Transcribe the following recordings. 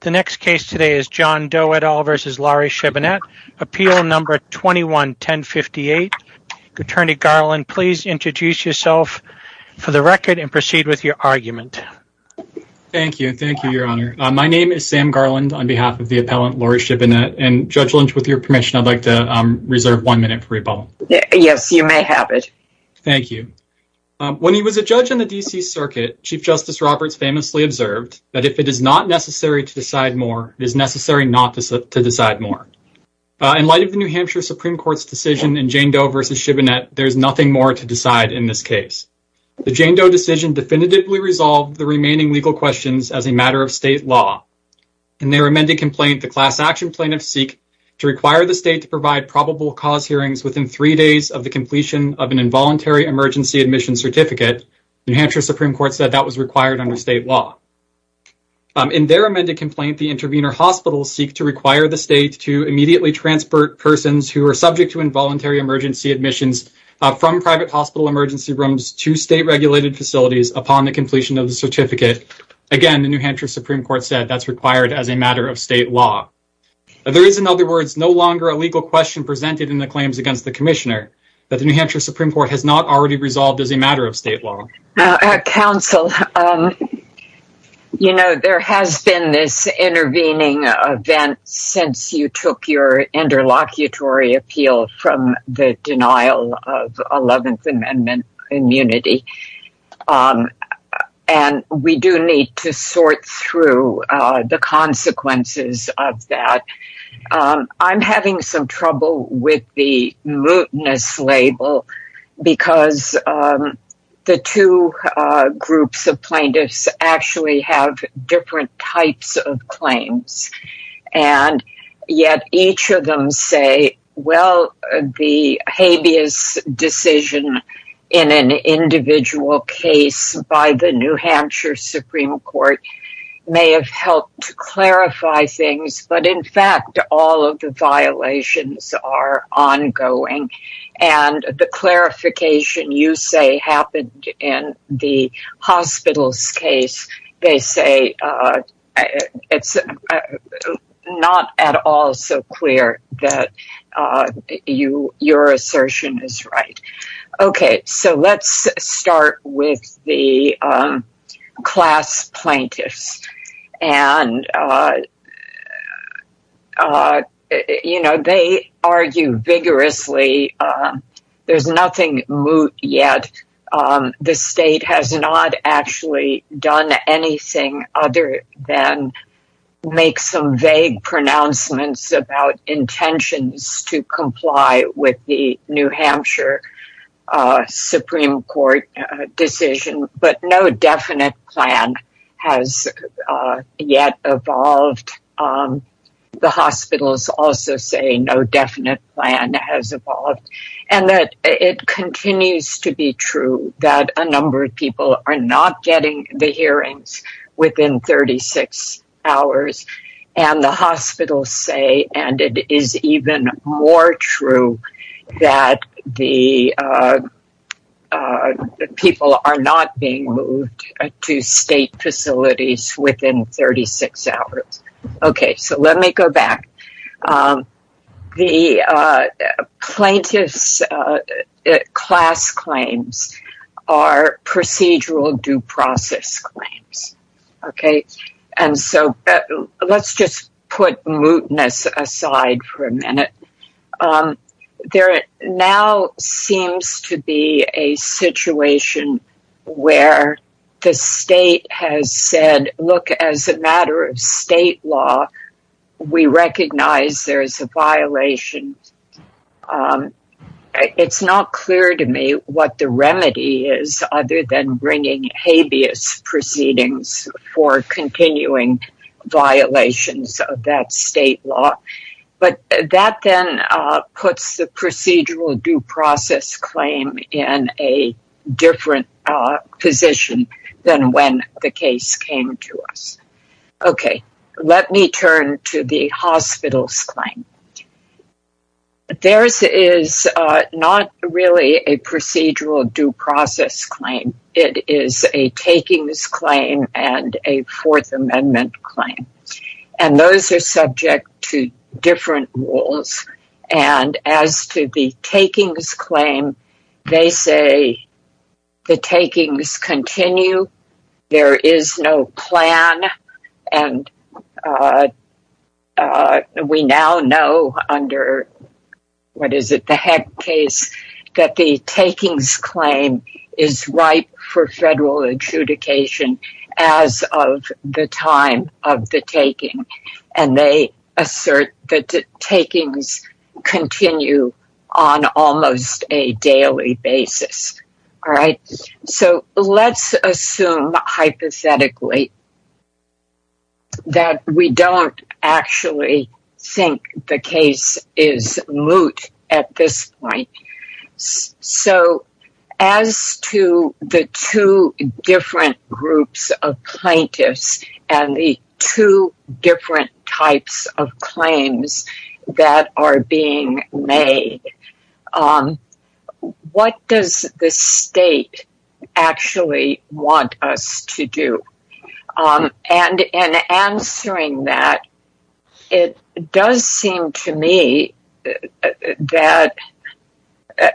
The next case today is John Doe et al versus Laurie Shibinette, appeal number 21-1058. Attorney Garland, please introduce yourself for the record and proceed with your argument. Thank you. Thank you, Your Honor. My name is Sam Garland on behalf of the appellant Laurie Shibinette, and Judge Lynch, with your permission, I'd like to reserve one minute for rebuttal. Yes, you may have it. Thank you. When he was a judge in the D.C. Circuit, Chief Justice Roberts famously observed that if it is not necessary to decide more, it is necessary not to decide more. In light of the New Hampshire Supreme Court's decision in Jane Doe v. Shibinette, there is nothing more to decide in this case. The Jane Doe decision definitively resolved the remaining legal questions as a matter of state law. In their amended complaint, the class action plaintiffs seek to require the state to provide probable cause hearings within three days of the that was required under state law. In their amended complaint, the intervener hospitals seek to require the state to immediately transport persons who are subject to involuntary emergency admissions from private hospital emergency rooms to state-regulated facilities upon the completion of the certificate. Again, the New Hampshire Supreme Court said that's required as a matter of state law. There is, in other words, no longer a legal question presented in the claims against the Commissioner that the New Hampshire Supreme Court has not already resolved as a matter of state law. There has been this intervening event since you took your interlocutory appeal from the denial of 11th Amendment immunity, and we do need to sort through the consequences of that. I'm having some trouble with the mootness label because the two groups of plaintiffs actually have different types of claims, and yet each of them say, well, the habeas decision in an all of the violations are ongoing, and the clarification you say happened in the hospital's case, they say it's not at all so clear that your assertion is right. So let's start with the class plaintiffs. They argue vigorously. There's nothing moot yet. The state has not actually done anything other than make some vague pronouncements about intentions to comply with the New Hampshire Supreme Court decision, but no definite plan has yet evolved. The hospitals also say no definite plan has evolved, and that it continues to be true that a number of people are not getting the hearings within 36 hours, and the hospitals say, and it is even more true that the people are not being moved to state facilities within 36 hours. Okay, so let me go back. The plaintiffs' class claims are procedural due process claims, okay, and so let's just put mootness aside for a minute. There now seems to be a situation where the state has said, look, as a matter of state law, we recognize there is a violation. It's not clear to me what the remedy is other than bringing habeas proceedings for continuing violations of that state law, but that then puts the procedural due process claim in a different position than when the case came to us. Okay, let me turn to the hospitals' claim. Theirs is not really a procedural due process claim. It is a takings claim and a Fourth Amendment claim, and those are subject to different rules, and as to the takings claim, they say the takings continue. There is no plan, and we now know under, what is it, the Heck case, that the takings claim is ripe for federal adjudication as of the time of the taking, and they assert that takings continue on almost a daily basis. All right, so let's assume hypothetically that we don't actually think the case is moot at this point. So as to the two different groups of plaintiffs and the two different types of claims that are being made, what does the state actually want us to do? And in answering that, it does seem to me that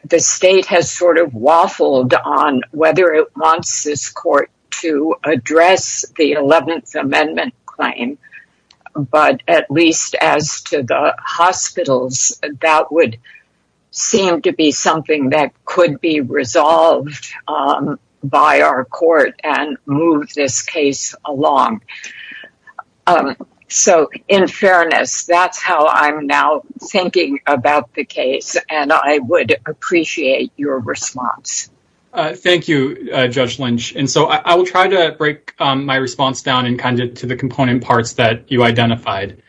the state has sort of waffled on whether it wants this court to address the Eleventh Amendment claim, but at least as to the hospitals, that would seem to be something that could be resolved by our court and move this case along. So, in fairness, that's how I'm now thinking about the case, and I would appreciate your response. Thank you, Judge Lynch, and so I will try to break my response down in kind to the component parts that you identified.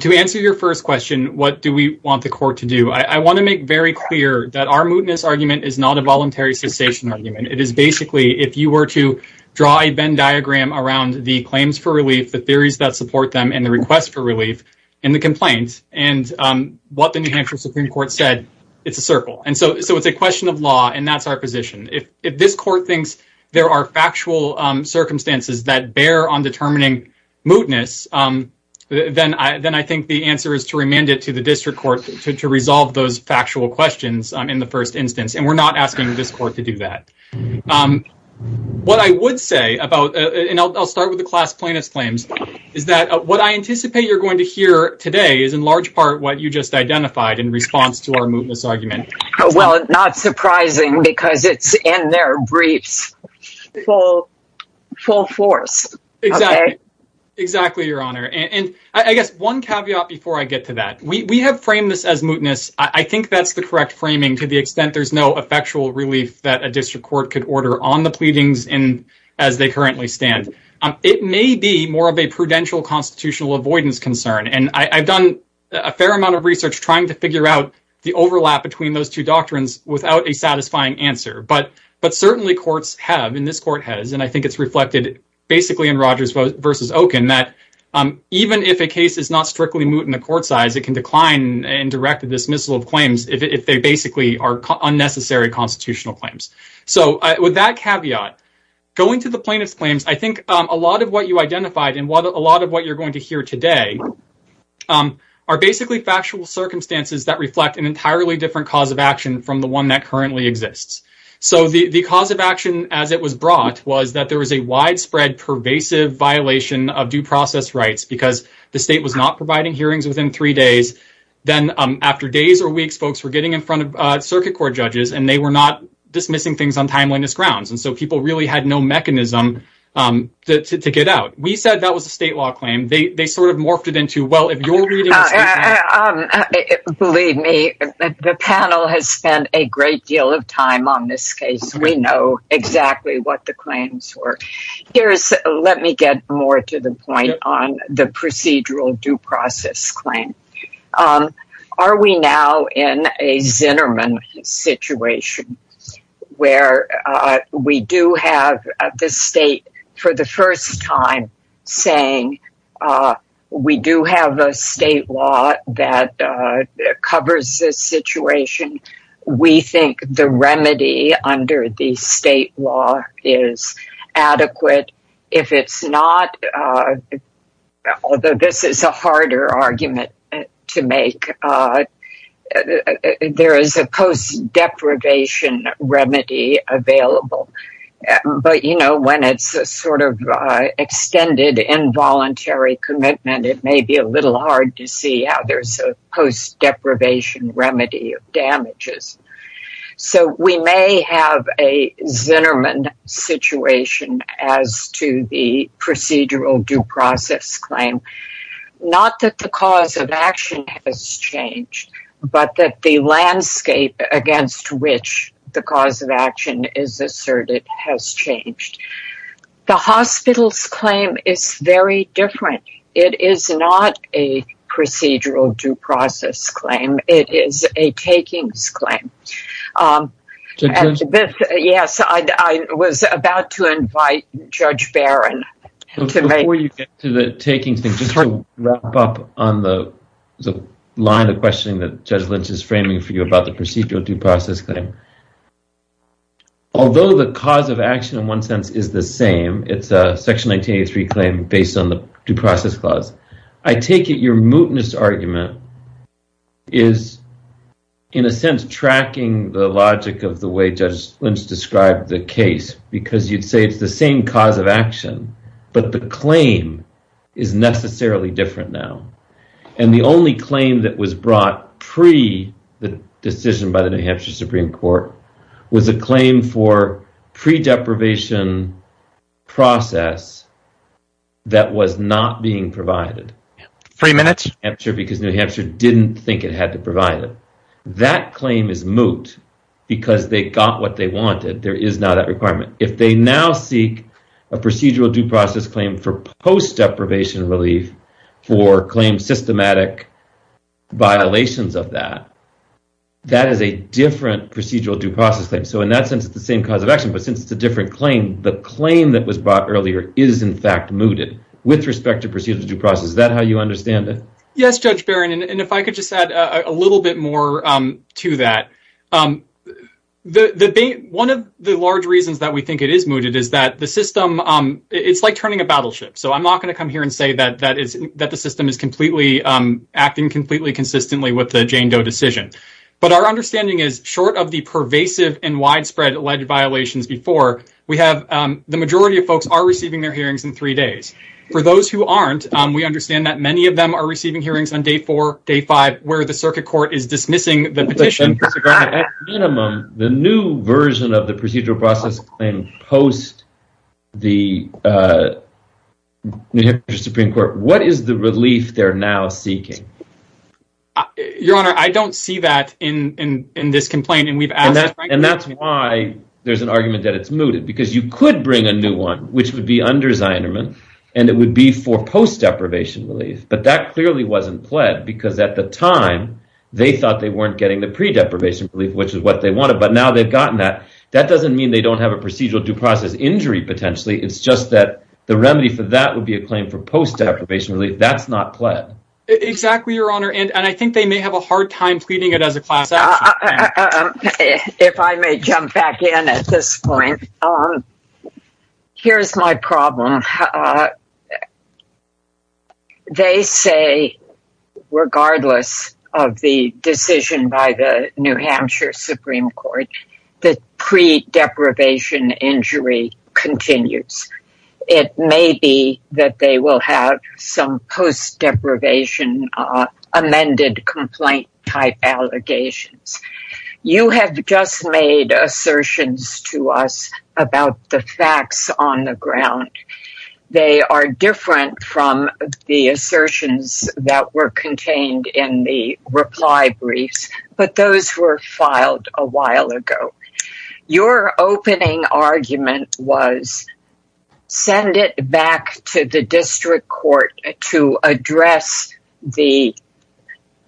To answer your first question, what do we want the court to do? I want to make very clear that our mootness argument is not a voluntary cessation argument. It is basically, if you were to draw a Venn diagram around the claims for relief, the theories that support them, and the request for relief, and the complaints, and what the New Hampshire Supreme Court said, it's a circle. And so it's a question of law, and that's our position. If this court thinks there are factual circumstances that bear on determining mootness, then I think the answer is to remand it to the district court to resolve those factual questions in the first instance, and we're not asking this court to do that. What I would say about, and I'll start with the class plaintiff's claims, is that what I anticipate you're going to hear today is in large part what you just identified in response to our mootness argument. Well, not surprising, because it's in their briefs full force. Exactly, Your Honor, and I guess one caveat before I get to that. We have framed this as mootness. I think that's the correct framing to the extent there's no effectual relief that a district court could order on the pleadings as they currently stand. It may be more of a prudential constitutional avoidance concern, and I've done a fair amount of research trying to figure out the overlap between those two doctrines without a satisfying answer. But certainly courts have, and this court has, and I think it's reflected basically in court size, it can decline and direct the dismissal of claims if they basically are unnecessary constitutional claims. So with that caveat, going to the plaintiff's claims, I think a lot of what you identified and what a lot of what you're going to hear today are basically factual circumstances that reflect an entirely different cause of action from the one that currently exists. So the cause of action as it was brought was that there was a widespread pervasive violation of due process rights because the state was not providing hearings within three days. Then after days or weeks, folks were getting in front of circuit court judges, and they were not dismissing things on timeliness grounds. And so people really had no mechanism to get out. We said that was a state law claim. They sort of morphed it into, well, if you're reading... Believe me, the panel has spent a great deal of time on this case. We know exactly what the Let me get more to the point on the procedural due process claim. Are we now in a Zinnerman situation where we do have the state for the first time saying we do have a state law that if it's not... Although this is a harder argument to make, there is a post deprivation remedy available. But when it's a sort of extended involuntary commitment, it may be a little hard to see how there's a post deprivation remedy of damages. So we may have a Zinnerman situation as to the procedural due process claim. Not that the cause of action has changed, but that the landscape against which the cause of action is asserted has changed. The hospital's claim is very different. It is not a procedural due process claim. It is a takings claim. Yes, I was about to invite Judge Barron to make... Before you get to the takings thing, just to wrap up on the line of questioning that Judge Lynch is framing for you about the procedural due process claim. Although the cause of action in one sense is the same, it's a section 1983 claim based on the due process clause. I take it your mootness argument is in a sense tracking the logic of the way Judge Lynch described the case, because you'd say it's the same cause of action, but the claim is necessarily different now. The only claim that was brought pre the decision by the New Hampshire Supreme Court was a claim for pre deprivation process that was not being provided. New Hampshire didn't think it had to provide it. That claim is moot because they got what they wanted. There is not that requirement. If they now seek a procedural due process claim for post deprivation relief for claim systematic violations of that, that is a different procedural due process claim. In that sense, it's the same cause of action, but since it's a different claim, the claim that was brought earlier is in fact mooted with respect to procedural due process. Is that how you understand it? Yes, Judge Barron, and if I could just add a little bit more to that. One of the large reasons that we think it is mooted is that the system, it's like turning a battleship. I'm not going to come here and say that the system is acting completely consistently with the Jane Doe decision, but our understanding is short of the pervasive and widespread alleged violations before. The majority of folks are receiving their hearings in three days. For those who aren't, we understand that many of them are receiving hearings on day four, day five, where the circuit court is dismissing the petition. At minimum, the new version of the procedural process claim post the New Hampshire Supreme Court, what is the relief they're now seeking? Your Honor, I don't see that in this complaint. That's why there's an argument that it's mooted because you could bring a new one, which would be under Zinerman, and it would be for post deprivation relief, but that clearly wasn't pled because at the time, they thought they weren't getting the pre-deprivation relief, which is what they wanted, but now they've gotten that. That doesn't mean they don't have a procedural due process injury potentially. It's just that the remedy for that would be a claim for post deprivation relief. That's not pled. Exactly, Your Honor, and I if I may jump back in at this point, here's my problem. They say, regardless of the decision by the New Hampshire Supreme Court, the pre-deprivation injury continues. It may be that they will have some post deprivation amended complaint type allegations. You have just made assertions to us about the facts on the ground. They are different from the assertions that were contained in the reply briefs, but those were filed a while ago. Your opening argument was, send it back to the district court to address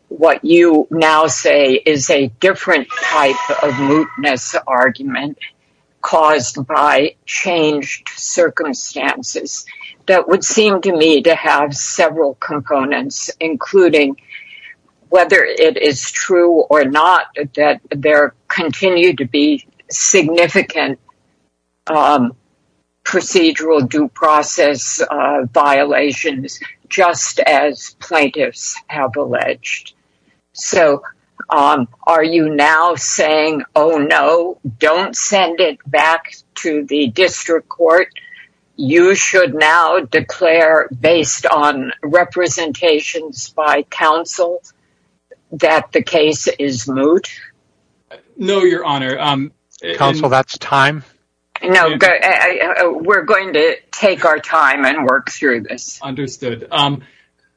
what you now say is a different type of mootness argument caused by changed circumstances. That would seem to me to have several components, including whether it is true or not, that there continue to be significant procedural due process violations, just as plaintiffs have alleged. So, are you now saying, oh no, don't send it back to the district court. You should now declare, based on representations by counsel, that the case is moot? No, Your Honor. Counsel, that's time. No, we're going to take our time and work through this. Understood.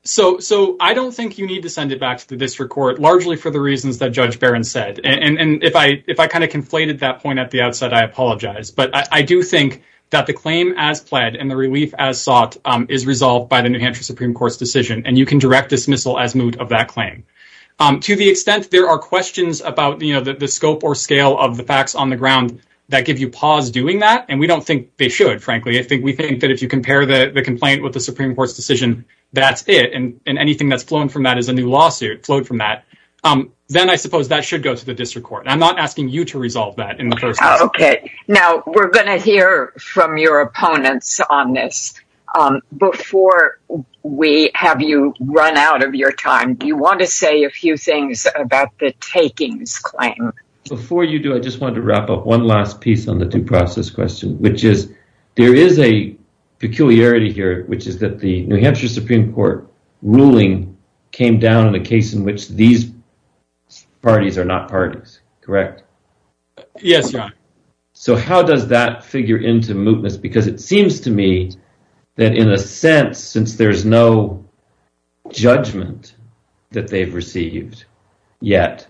So, I don't think you need to send it back to the district court, largely for the reasons that Judge Barron said, and if I kind of conflated that point at the outset, I apologize. I do think that the claim as pled and the relief as sought is resolved by the New Hampshire Supreme Court's decision, and you can direct dismissal as moot of that claim. To the extent there are questions about the scope or scale of the facts on the ground that give you pause doing that, and we don't think they should, frankly. I think we think that if you compare the complaint with the Supreme Court's decision, that's it, and anything that's flown from that is a new lawsuit flowed from that, then I suppose that should go to the district court. I'm not asking you to resolve that in the first place. Okay. Now, we're going to hear from your opponents on this. Before we have you run out of your time, do you want to say a few things about the takings claim? Before you do, I just wanted to wrap up one last piece on the due process question, which is there is a peculiarity here, which is that the New Hampshire Supreme Court ruling came down in a case in which these parties are not parties, correct? Yes, your honor. So, how does that figure into mootness? Because it seems to me that in a sense, since there's no judgment that they've received yet,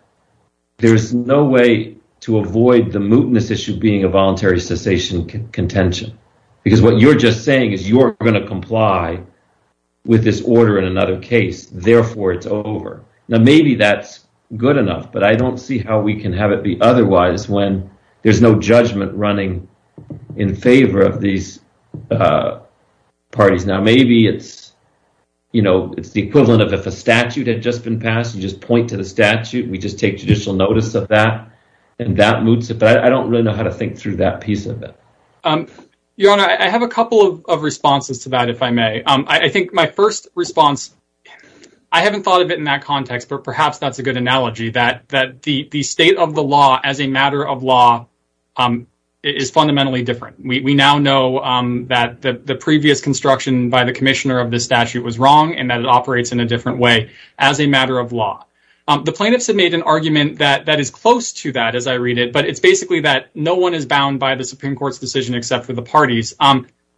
there's no way to avoid the mootness issue being a voluntary cessation contention, because what you're just saying is you're going to comply with this order in another case, therefore it's over. Now, maybe that's good enough, but I don't see how we can have it be otherwise when there's no judgment running in favor of these parties. Now, maybe it's the equivalent of if a statute had just been passed, you just point to the statute, we just take judicial notice of that, and that moots it, but I don't really know how to think through that piece of it. Your honor, I have a couple of responses to that, if I may. I think my first response, I haven't thought of it in that context, but perhaps that's a good analogy, that the state of the law as a matter of law is fundamentally different. We now know that the previous construction by the commissioner of this statute was wrong, and that it operates in a different way as a matter of law. The plaintiffs have made an argument that is close to that, but it's basically that no one is bound by the Supreme Court's decision except for the parties.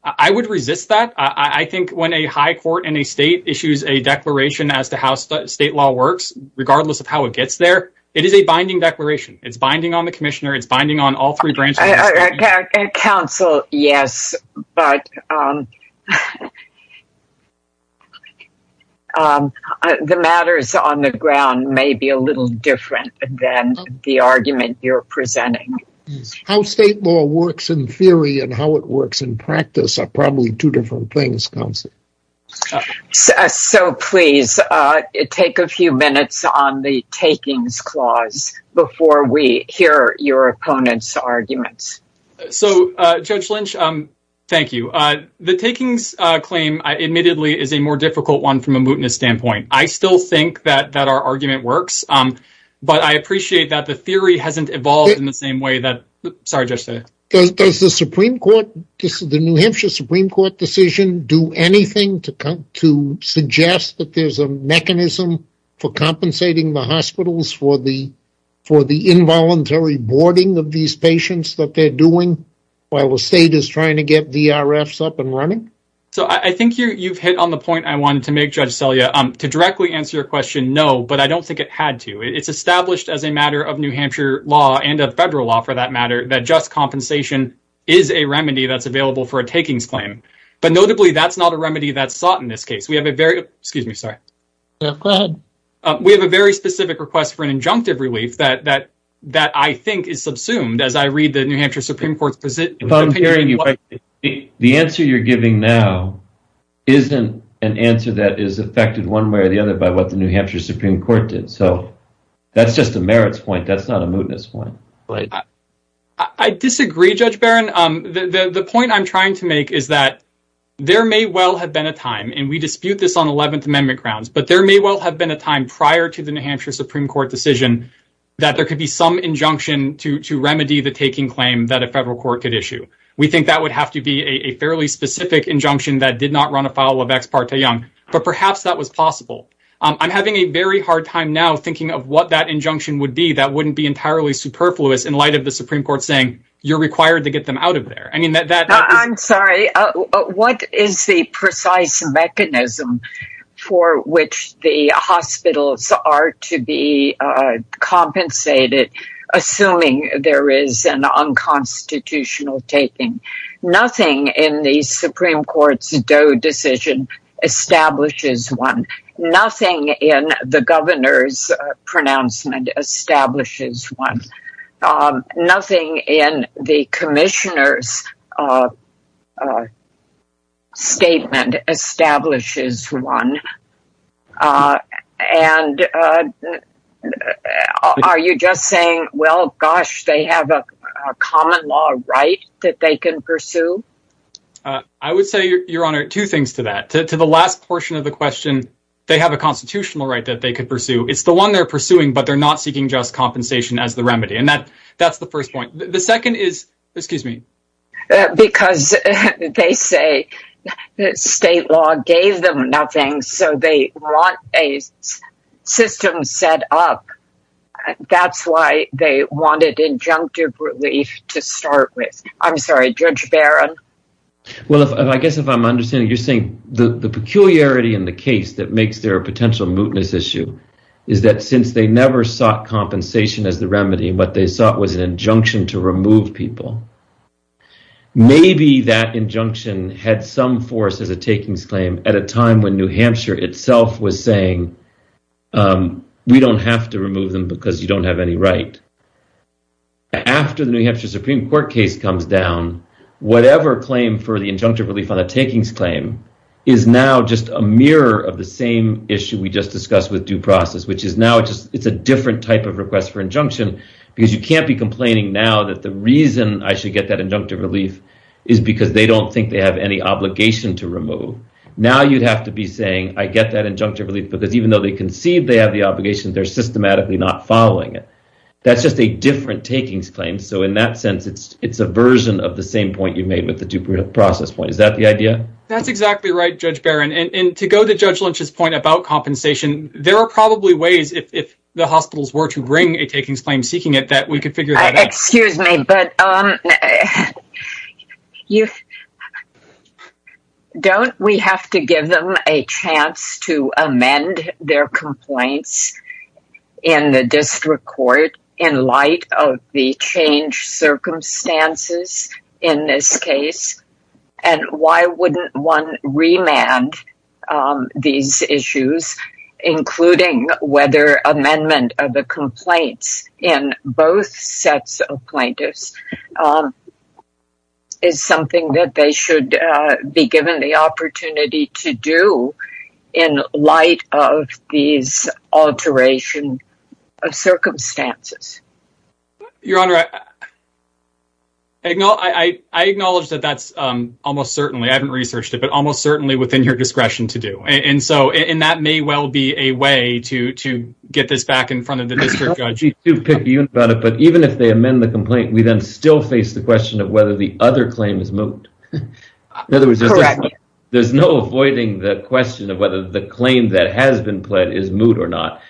I would resist that. I think when a high court in a state issues a declaration as to how state law works, regardless of how it gets there, it is a binding declaration. It's binding on the commissioner. It's binding on all three branches. Counsel, yes, but the matters on the ground may be a little different than the argument you're presenting. How state law works in theory and how it works in practice are probably two different things, counsel. So please take a few minutes on the takings clause before we hear your opponent's The takings claim, admittedly, is a more difficult one from a mootness standpoint. I still think that our argument works, but I appreciate that the theory hasn't evolved in the same way that Does the New Hampshire Supreme Court decision do anything to suggest that there's a mechanism for compensating the hospitals for the involuntary boarding of these patients that they're doing while the state is trying to get VRFs up and running? So I think you've hit on the point I wanted to make, Judge Celia. To directly answer your question, no, but I don't think it had to. It's established as a matter of New Hampshire law and of federal law, for that matter, that just compensation is a remedy that's available for a takings claim. But notably, that's not a remedy that's sought in this case. We have a very specific request for an injunctive relief that I think is subsumed as I read the New Hampshire Supreme Court decision. The answer you're giving now isn't an answer that is affected one way or the other by what the New Hampshire Supreme Court did. So that's just a merits point. That's not a mootness point. I disagree, Judge Barron. The point I'm trying to make is that there may well have been a time, and we dispute this on 11th Amendment grounds, but there may well have been a time prior to the New Hampshire Supreme Court decision that there could be some injunction to remedy the taking claim that federal court could issue. We think that would have to be a fairly specific injunction that did not run afoul of Ex parte Young, but perhaps that was possible. I'm having a very hard time now thinking of what that injunction would be that wouldn't be entirely superfluous in light of the Supreme Court saying, you're required to get them out of there. I mean, that- No, I'm sorry. What is the precise mechanism for which the hospitals are to be compensated, assuming there is an unconstitutional taking? Nothing in the Supreme Court's Doe decision establishes one. Nothing in the governor's pronouncement establishes one. Nothing in the commissioner's statement establishes one. Are you just saying, well, gosh, they have a common law right that they can pursue? I would say, Your Honor, two things to that. To the last portion of the question, they have a constitutional right that they could pursue. It's the one they're pursuing, but they're not seeking just compensation as the remedy, and that's the first point. The second is- Excuse me. Because they say that state law gave them nothing, so they want a system set up. That's why they wanted injunctive relief to start with. I'm sorry, Judge Barron? Well, I guess if I'm understanding, you're saying the peculiarity in the case that makes there a potential mootness issue is that since they never sought compensation as the remedy, what they sought was an injunction to remove people. Maybe that injunction had some force as a takings claim at a time when New Hampshire itself was saying, we don't have to remove them because you don't have any right. After the New Hampshire Supreme Court case comes down, whatever claim for the injunctive relief on the takings claim is now just a mirror of the same issue we just discussed with due process, which is now it's a different type of request for injunction because you can't be complaining now that the reason I should get that injunctive relief is because they don't think they have any obligation to remove. Now you'd have to be saying, I get that injunctive relief because even though they conceive they have the obligation, they're systematically not following it. That's just a different takings claim, so in that sense, it's a version of the same point you made with the due process point. Is that the idea? That's exactly right, Judge Barron. To go to Judge Lynch's point about compensation, there are probably ways if the hospitals were to bring a takings claim seeking it that we could figure that out. Excuse me, but don't we have to give them a chance to amend their complaints in the district court in light of the changed circumstances in this case? And why wouldn't one remand these issues, including whether amendment of the complaints in both sets of plaintiffs is something that they should be given the opportunity to do in light of these alteration of circumstances? Your Honor, I acknowledge that that's almost certainly, I haven't researched it, but almost certainly within your discretion to do, and so that may well be a way to get this back in front of the district judge. Even if they amend the complaint, we then still face the question of whether the other claim is moot. In other words, there's no avoiding the question of the claim that has been pled is moot or not.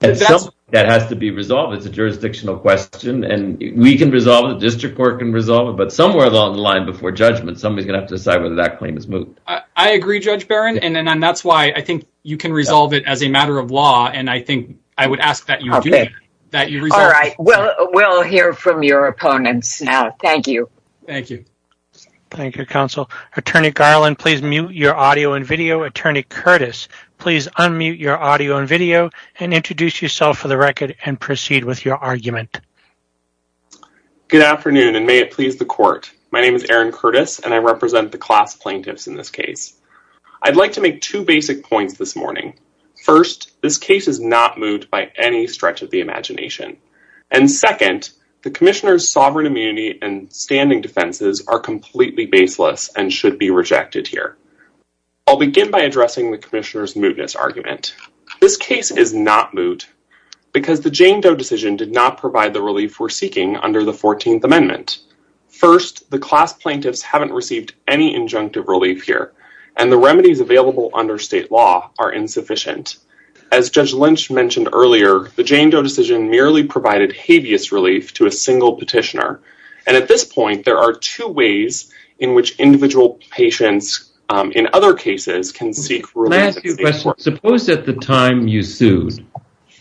That has to be resolved. It's a jurisdictional question and we can resolve it, the district court can resolve it, but somewhere along the line before judgment, somebody's going to have to decide whether that claim is moot. I agree, Judge Barron, and that's why I think you can resolve it as a matter of law, and I think I would ask that you do that. All right, well, we'll hear from your opponents now. Thank you. Thank you, counsel. Attorney Garland, please mute your audio and video. Attorney Curtis, please unmute your audio and video and introduce yourself for the record and proceed with your argument. Good afternoon, and may it please the court. My name is Aaron Curtis, and I represent the class plaintiffs in this case. I'd like to make two basic points this morning. First, this case is not moved by any stretch of the imagination, and second, the commissioner's standing defenses are completely baseless and should be rejected here. I'll begin by addressing the commissioner's mootness argument. This case is not moot because the Jane Doe decision did not provide the relief we're seeking under the 14th amendment. First, the class plaintiffs haven't received any injunctive relief here, and the remedies available under state law are insufficient. As Judge Lynch mentioned earlier, the Jane Doe decision merely provided habeas relief to a there are two ways in which individual patients in other cases can seek relief. Suppose at the time you sued,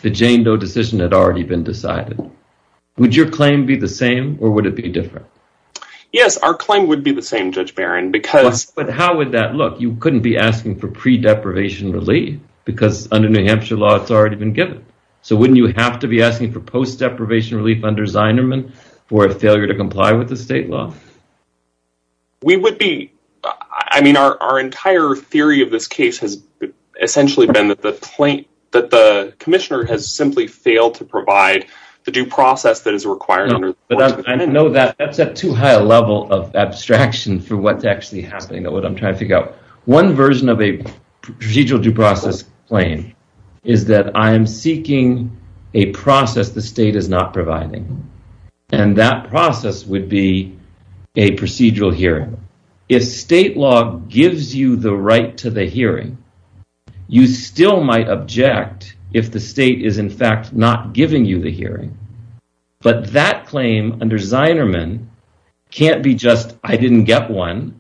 the Jane Doe decision had already been decided. Would your claim be the same, or would it be different? Yes, our claim would be the same, Judge Barron. But how would that look? You couldn't be asking for pre-deprivation relief because under New Hampshire law, it's already been given. So wouldn't you have to be asking for post-deprivation relief under Zinerman for a failure to comply with the state law? We would be. I mean, our entire theory of this case has essentially been that the plaintiff, that the commissioner, has simply failed to provide the due process that is required. I know that that's at too high a level of abstraction for what's actually happening, what I'm trying to figure out. One version of a procedural due process claim is that I am seeking a process the state is not providing, and that process would be a procedural hearing. If state law gives you the right to the hearing, you still might object if the state is in fact not giving you the hearing. But that claim under Zinerman can't be just, I didn't get one.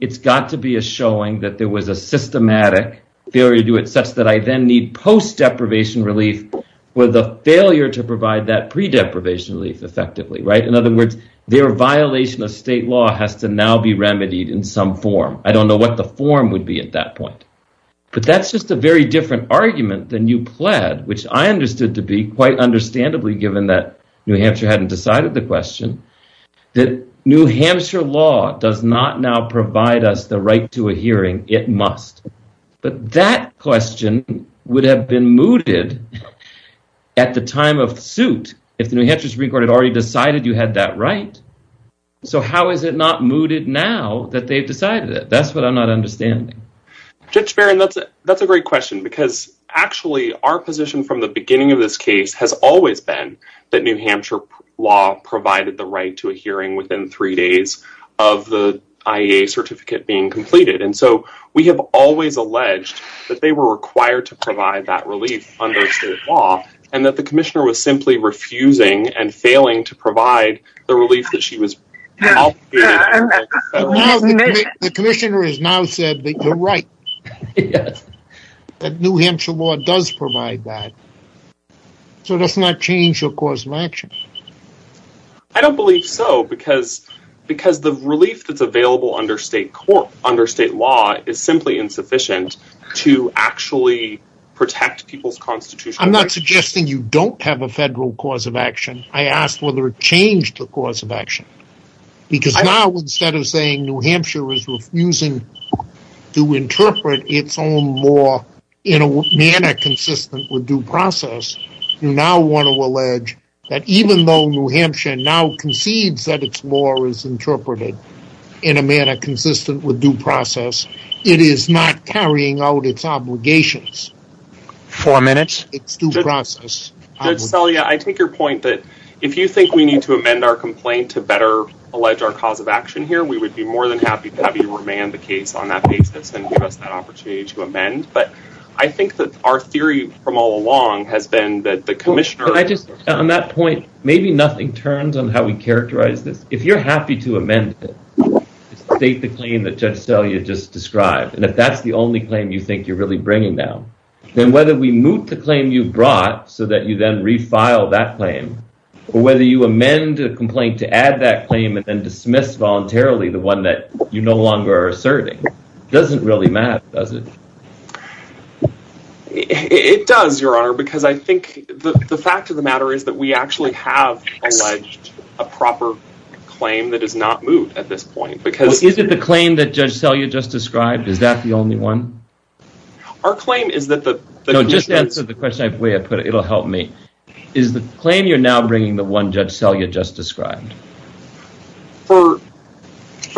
It's got to be a showing that there was a systematic failure to do it such that I then need post-deprivation relief with a failure to provide that pre-deprivation relief effectively. In other words, their violation of state law has to now be remedied in some form. I don't know what the form would be at that point. But that's just a very different argument than you pled, which I understood to be quite understandably given that New Hampshire hadn't decided the question, that New Hampshire law does not now provide us the right to a hearing. It must. But that question would have been mooted at the time of suit if the New Hampshire Supreme Court had already decided you had that right. So how is it not mooted now that they've decided it? That's what I'm not understanding. Judge Barron, that's a great question because actually our position from the beginning of this case has always been that New Hampshire law provided the hearing within three days of the IAEA certificate being completed. And so we have always alleged that they were required to provide that relief under state law and that the commissioner was simply refusing and failing to provide the relief that she was... The commissioner has now said that you're right. Yes. That New Hampshire law does provide that. So let's not change the course of because the relief that's available under state law is simply insufficient to actually protect people's constitutional rights. I'm not suggesting you don't have a federal cause of action. I asked whether it changed the cause of action. Because now instead of saying New Hampshire is refusing to interpret its own law in a manner consistent with due process, you now want to interpret it in a manner consistent with due process. It is not carrying out its obligations. Four minutes. It's due process. Judge Selye, I take your point that if you think we need to amend our complaint to better allege our cause of action here, we would be more than happy to have you remand the case on that basis and give us that opportunity to amend. But I think that our theory from all along has been that the commissioner... On that point, maybe nothing turns on how we if you're happy to amend it, state the claim that Judge Selye just described. And if that's the only claim you think you're really bringing down, then whether we move the claim you brought so that you then refile that claim, or whether you amend a complaint to add that claim and then dismiss voluntarily the one that you no longer are asserting, doesn't really matter, does it? It does, Your Honor, because I think the fact of the matter is that we actually have alleged a proper claim that is not moved at this point because... Is it the claim that Judge Selye just described? Is that the only one? Our claim is that the... No, just answer the question the way I put it. It'll help me. Is the claim you're now bringing the one Judge Selye just described? For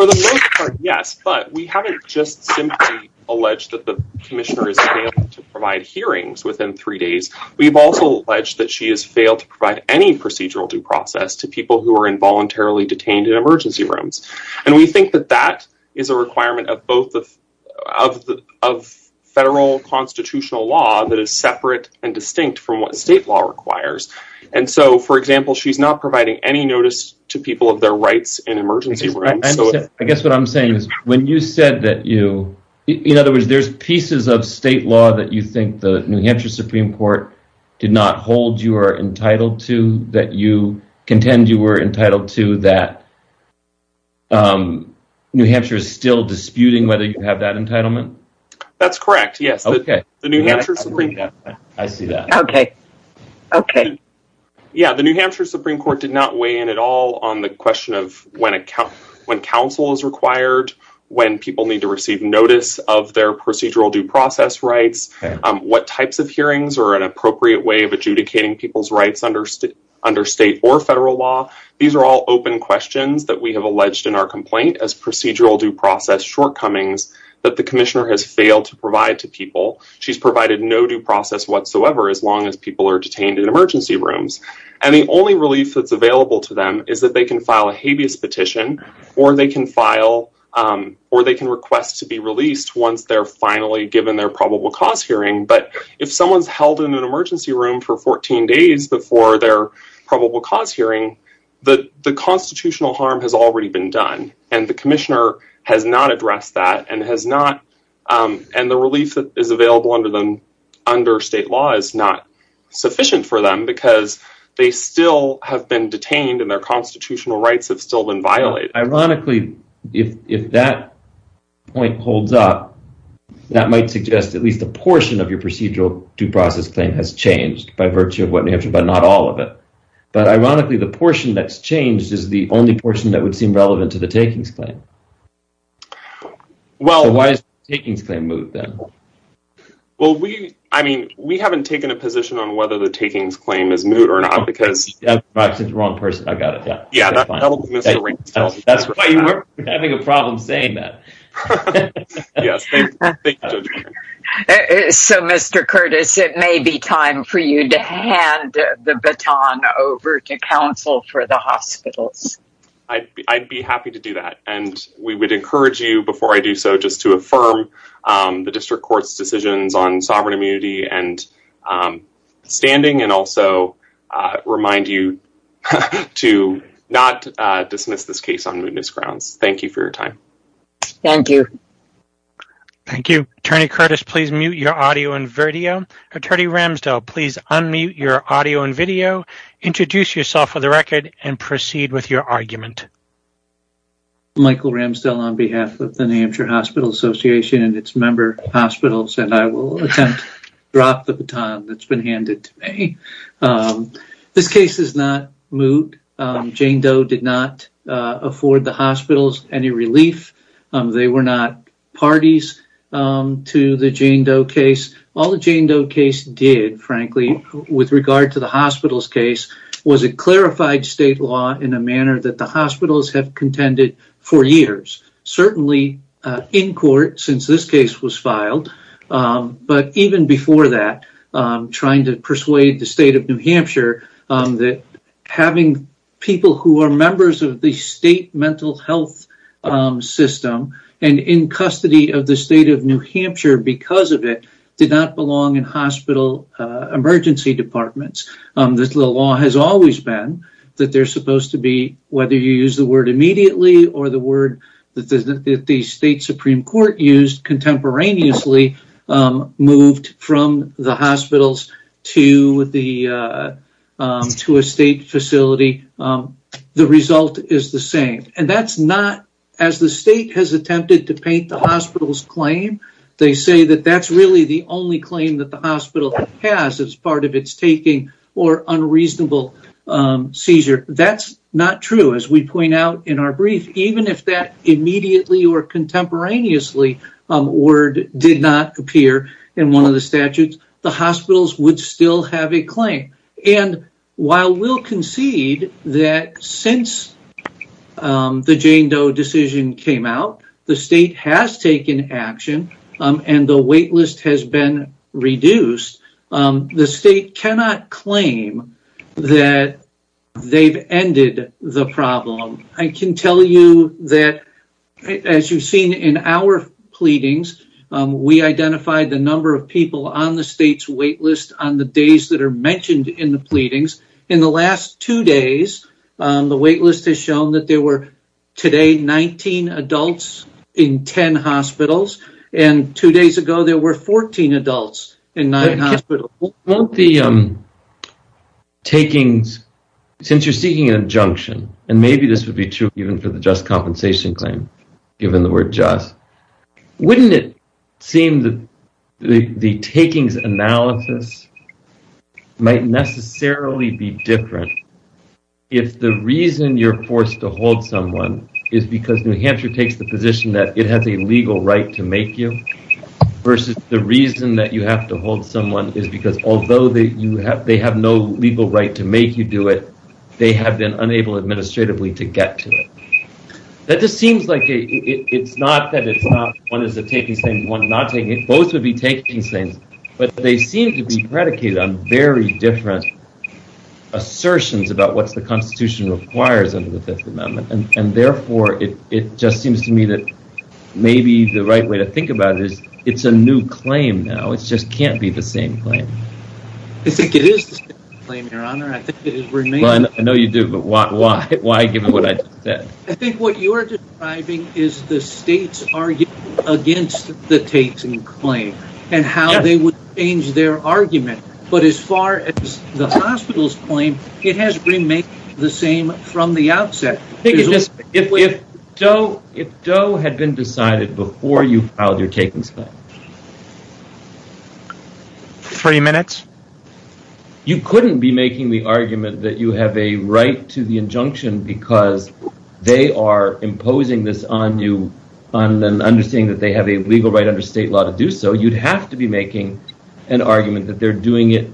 the most part, yes, but we haven't just simply alleged that the commissioner is failing to provide hearings within three days. We've also alleged that she has failed to provide any procedural due process to people who are involuntarily detained in emergency rooms. And we think that that is a requirement of federal constitutional law that is separate and distinct from what state law requires. And so, for example, she's not providing any notice to people of their rights in emergency rooms. I guess what I'm saying is when you said that you... In other words, there's pieces of state law that you think the New Hampshire Supreme Court did not hold you are entitled to, that you contend you were entitled to, that New Hampshire is still disputing whether you have that entitlement? That's correct, yes. Okay. The New Hampshire Supreme... I see that. Okay. Okay. Yeah, the New Hampshire Supreme Court did not weigh in at all on the question of when counsel is required, when people need to receive notice of their procedural due process rights, what types of hearings are an appropriate way of adjudicating people's rights under state or federal law. These are all open questions that we have alleged in our complaint as procedural due process shortcomings that the commissioner has failed to provide to people. She's provided no due process whatsoever as long as people are detained in emergency rooms. And the only relief that's available to them is that they can file a habeas petition, or they can file... Or they can request to be released once they're finally given their probable cause hearing. But if someone's held in an emergency room for 14 days before their probable cause hearing, the constitutional harm has already been done. And the commissioner has not addressed that and has not... And the relief that is available under state law is not sufficient for them because they still have been detained and their constitutional rights have been violated. Ironically, if that point holds up, that might suggest at least a portion of your procedural due process claim has changed by virtue of what... But not all of it. But ironically, the portion that's changed is the only portion that would seem relevant to the takings claim. Well, why is the takings claim moot then? Well, we haven't taken a position on whether the takings claim is moot or not because... I said the wrong person. I got it. Yeah. Yeah, that's fine. That's why you weren't having a problem saying that. Yes. So, Mr. Curtis, it may be time for you to hand the baton over to counsel for the hospitals. I'd be happy to do that. And we would encourage you, before I do so, just to affirm the district court's decisions on sovereign immunity and standing, and also remind you to not dismiss this case on mootness grounds. Thank you for your time. Thank you. Thank you. Attorney Curtis, please mute your audio and video. Attorney Ramsdell, please unmute your audio and video, introduce yourself for the record, and proceed with your and its member hospitals. And I will attempt to drop the baton that's been handed to me. This case is not moot. Jane Doe did not afford the hospitals any relief. They were not parties to the Jane Doe case. All the Jane Doe case did, frankly, with regard to the hospital's case, was it clarified state law in a manner that the hospitals have contended for years. Certainly, in court, since this case was filed, but even before that, trying to persuade the state of New Hampshire, that having people who are members of the state mental health system, and in custody of the state of New Hampshire because of it, did not belong in hospital emergency departments. The law has always been that they're supposed to be, whether you use the word that the state Supreme Court used contemporaneously, moved from the hospitals to a state facility. The result is the same. And that's not, as the state has attempted to paint the hospital's claim, they say that that's really the only claim that the hospital has as part of or unreasonable seizure. That's not true. As we point out in our brief, even if that immediately or contemporaneously word did not appear in one of the statutes, the hospitals would still have a claim. And while we'll concede that since the Jane Doe decision came out, the state has taken action, and the waitlist has been reduced, the state cannot claim that they've ended the problem. I can tell you that, as you've seen in our pleadings, we identified the number of people on the state's waitlist on the days that are mentioned in the pleadings. In the last two days, the waitlist has shown that there were today 19 adults in 10 hospitals, and two days ago there were 14 adults in nine hospitals. Since you're seeking an injunction, and maybe this would be true even for the just compensation claim, given the word just, wouldn't it seem that the takings analysis might necessarily be different if the reason you're forced to hold someone is because New Hampshire takes the position that it has a legal right to make you, versus the reason that you have to hold someone is because although they have no legal right to make you do it, they have been unable administratively to get to it. That just seems like it's not that it's not one is taking things, one is not taking it, both would be taking things, but they seem to be predicated on very different assertions about what the Constitution requires under the Fifth Amendment, and therefore it just seems to me that maybe the right way to think about it is it's a new claim now, it just can't be the same claim. I think it is the same claim, your honor, I think it remains. I know you do, but why give it what I just said. I think what you're describing is the state's argument against the taking claim, and how they would change their argument, but as far as the hospital's claim, it has remained the same from the outset. If Doe had been decided before you filed your takings claim. Three minutes. You couldn't be making the argument that you have a right to the injunction because they are imposing this on you, on them, understanding that they have a legal right under state law to do so. You'd have to be making an argument that they're doing it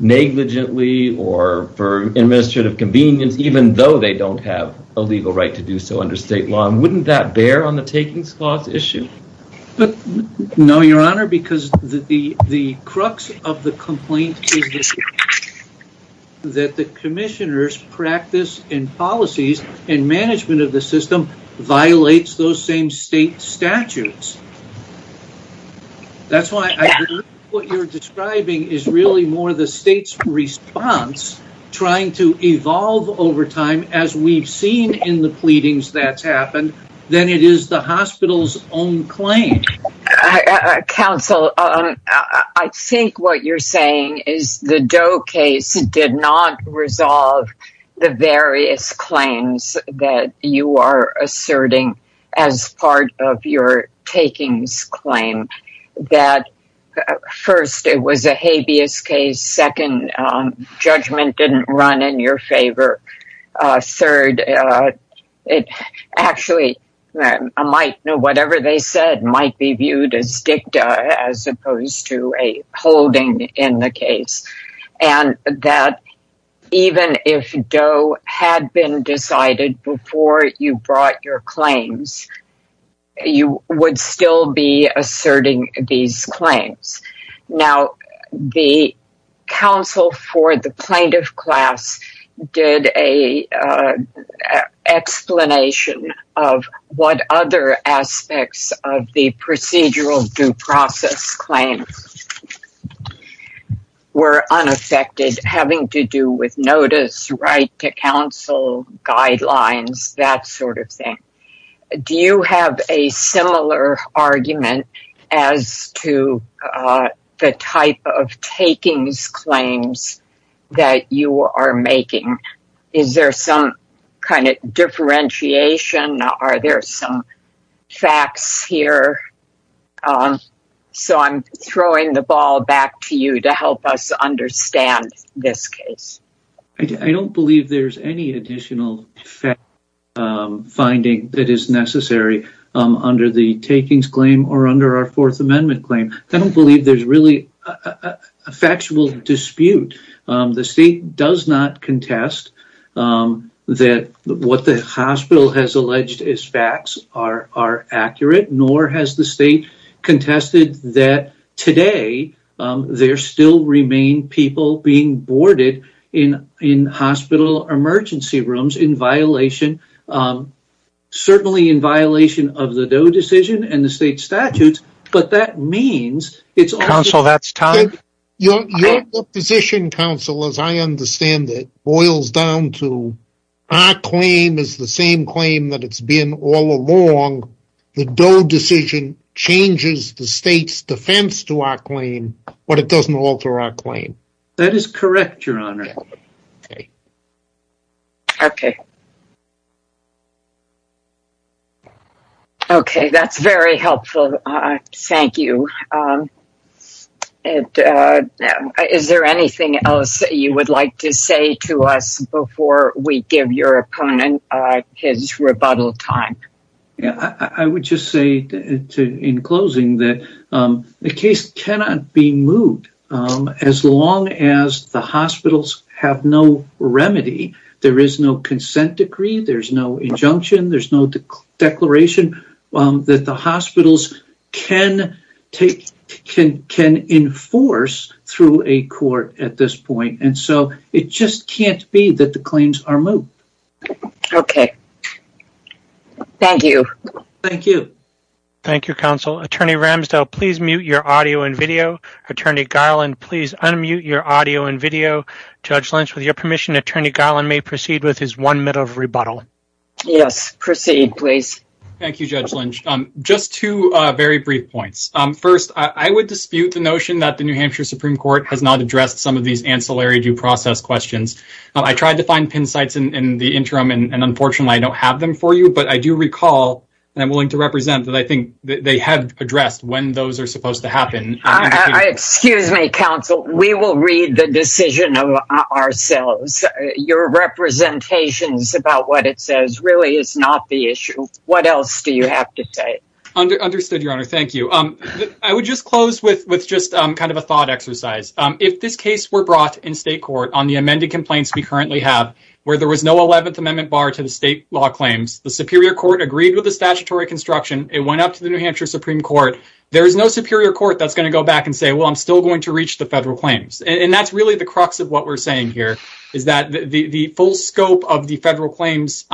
negligently, or for administrative convenience, even though they don't have a legal right to do so under state law. Wouldn't that bear on the takings clause issue? No, your honor, because the crux of the complaint is that the commissioner's practice and policies and management of the system violates those same state statutes. That's why what you're describing is really more the state's response trying to evolve over time, as we've seen in the pleadings that's happened, than it is the hospital's own claim. Counsel, I think what you're saying is the Doe case did not resolve the various claims that you are asserting as part of your takings claim. That first, it was a habeas case. Second, judgment didn't run in your favor. Third, actually, I might know whatever they said might be viewed as dicta, as opposed to a holding in the case. And that even if Doe had been decided before you brought your claims, you would still be asserting these claims. Now, the counsel for the plaintiff class did an explanation of what other aspects of the procedural due process claims were unaffected, having to do with notice, right to counsel, guidelines, that sort of thing. Do you have a similar argument as to the type of takings claims that you are making? Is there some kind of differentiation? Are there some facts here? So I'm throwing the ball back to you to help us understand this case. I don't believe there's any additional finding that is necessary under the takings claim or under our Fourth Amendment claim. I don't believe there's really a factual dispute. The state does not contest that what the hospital has alleged as facts are accurate, nor has the state contested that today there still remain people being boarded in hospital emergency rooms in violation, certainly in violation of the Doe decision and the state statutes. But that means it's also that's time. Your position, counsel, as I understand it, boils down to our claim is the same claim that it's been all along. The Doe decision changes the state's defense to our claim, but it doesn't alter our claim. That is correct, your honor. Okay. Okay, that's very helpful. Thank you. And is there anything else that you would like to say to us before we give your opponent his rebuttal time? Yeah, I would just say in closing that the case cannot be moved as long as the hospitals have no remedy. There is no consent decree. There's no injunction. There's no declaration that the hospitals can enforce through a court at this point. And so it just can't be that the claims are moved. Okay. Thank you. Thank you. Thank you, counsel. Attorney Ramsdell, please mute your audio and video. Attorney Garland, please unmute your audio and video. Judge Lynch, with your permission, Attorney Garland may proceed with his one minute of rebuttal. Yes, proceed, please. Thank you, Judge Lynch. Just two very brief points. First, I would dispute the notion that the New Hampshire Supreme Court has not addressed some of these ancillary due process questions. I tried to find pin sites in the interim, and unfortunately, I don't have them for you. But I do recall, and I'm willing to represent, that I think they have addressed when those are supposed to happen. Excuse me, counsel. We will read the decision ourselves. Your representations about what it says really is not the issue. What else do you have to say? Understood, Your Honor. Thank you. I would just close with just kind of a thought exercise. If this case were brought in state court on the amended complaints we currently have, where there was no 11th Amendment bar to the state law claims, the Superior Court agreed with the statutory construction, it went up to the New Hampshire Supreme Court, there is no Superior Court that's going to go back and say, well, I'm still going to reach the federal claims. And that's really the full scope of the federal claims,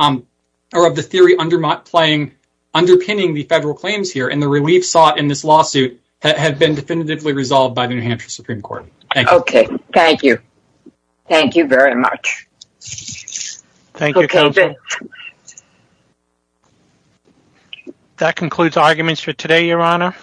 or of the theory underpinning the federal claims here, and the relief sought in this lawsuit that had been definitively resolved by the New Hampshire Supreme Court. Thank you. Okay. Thank you. Thank you very much. That concludes arguments for today, Your Honor.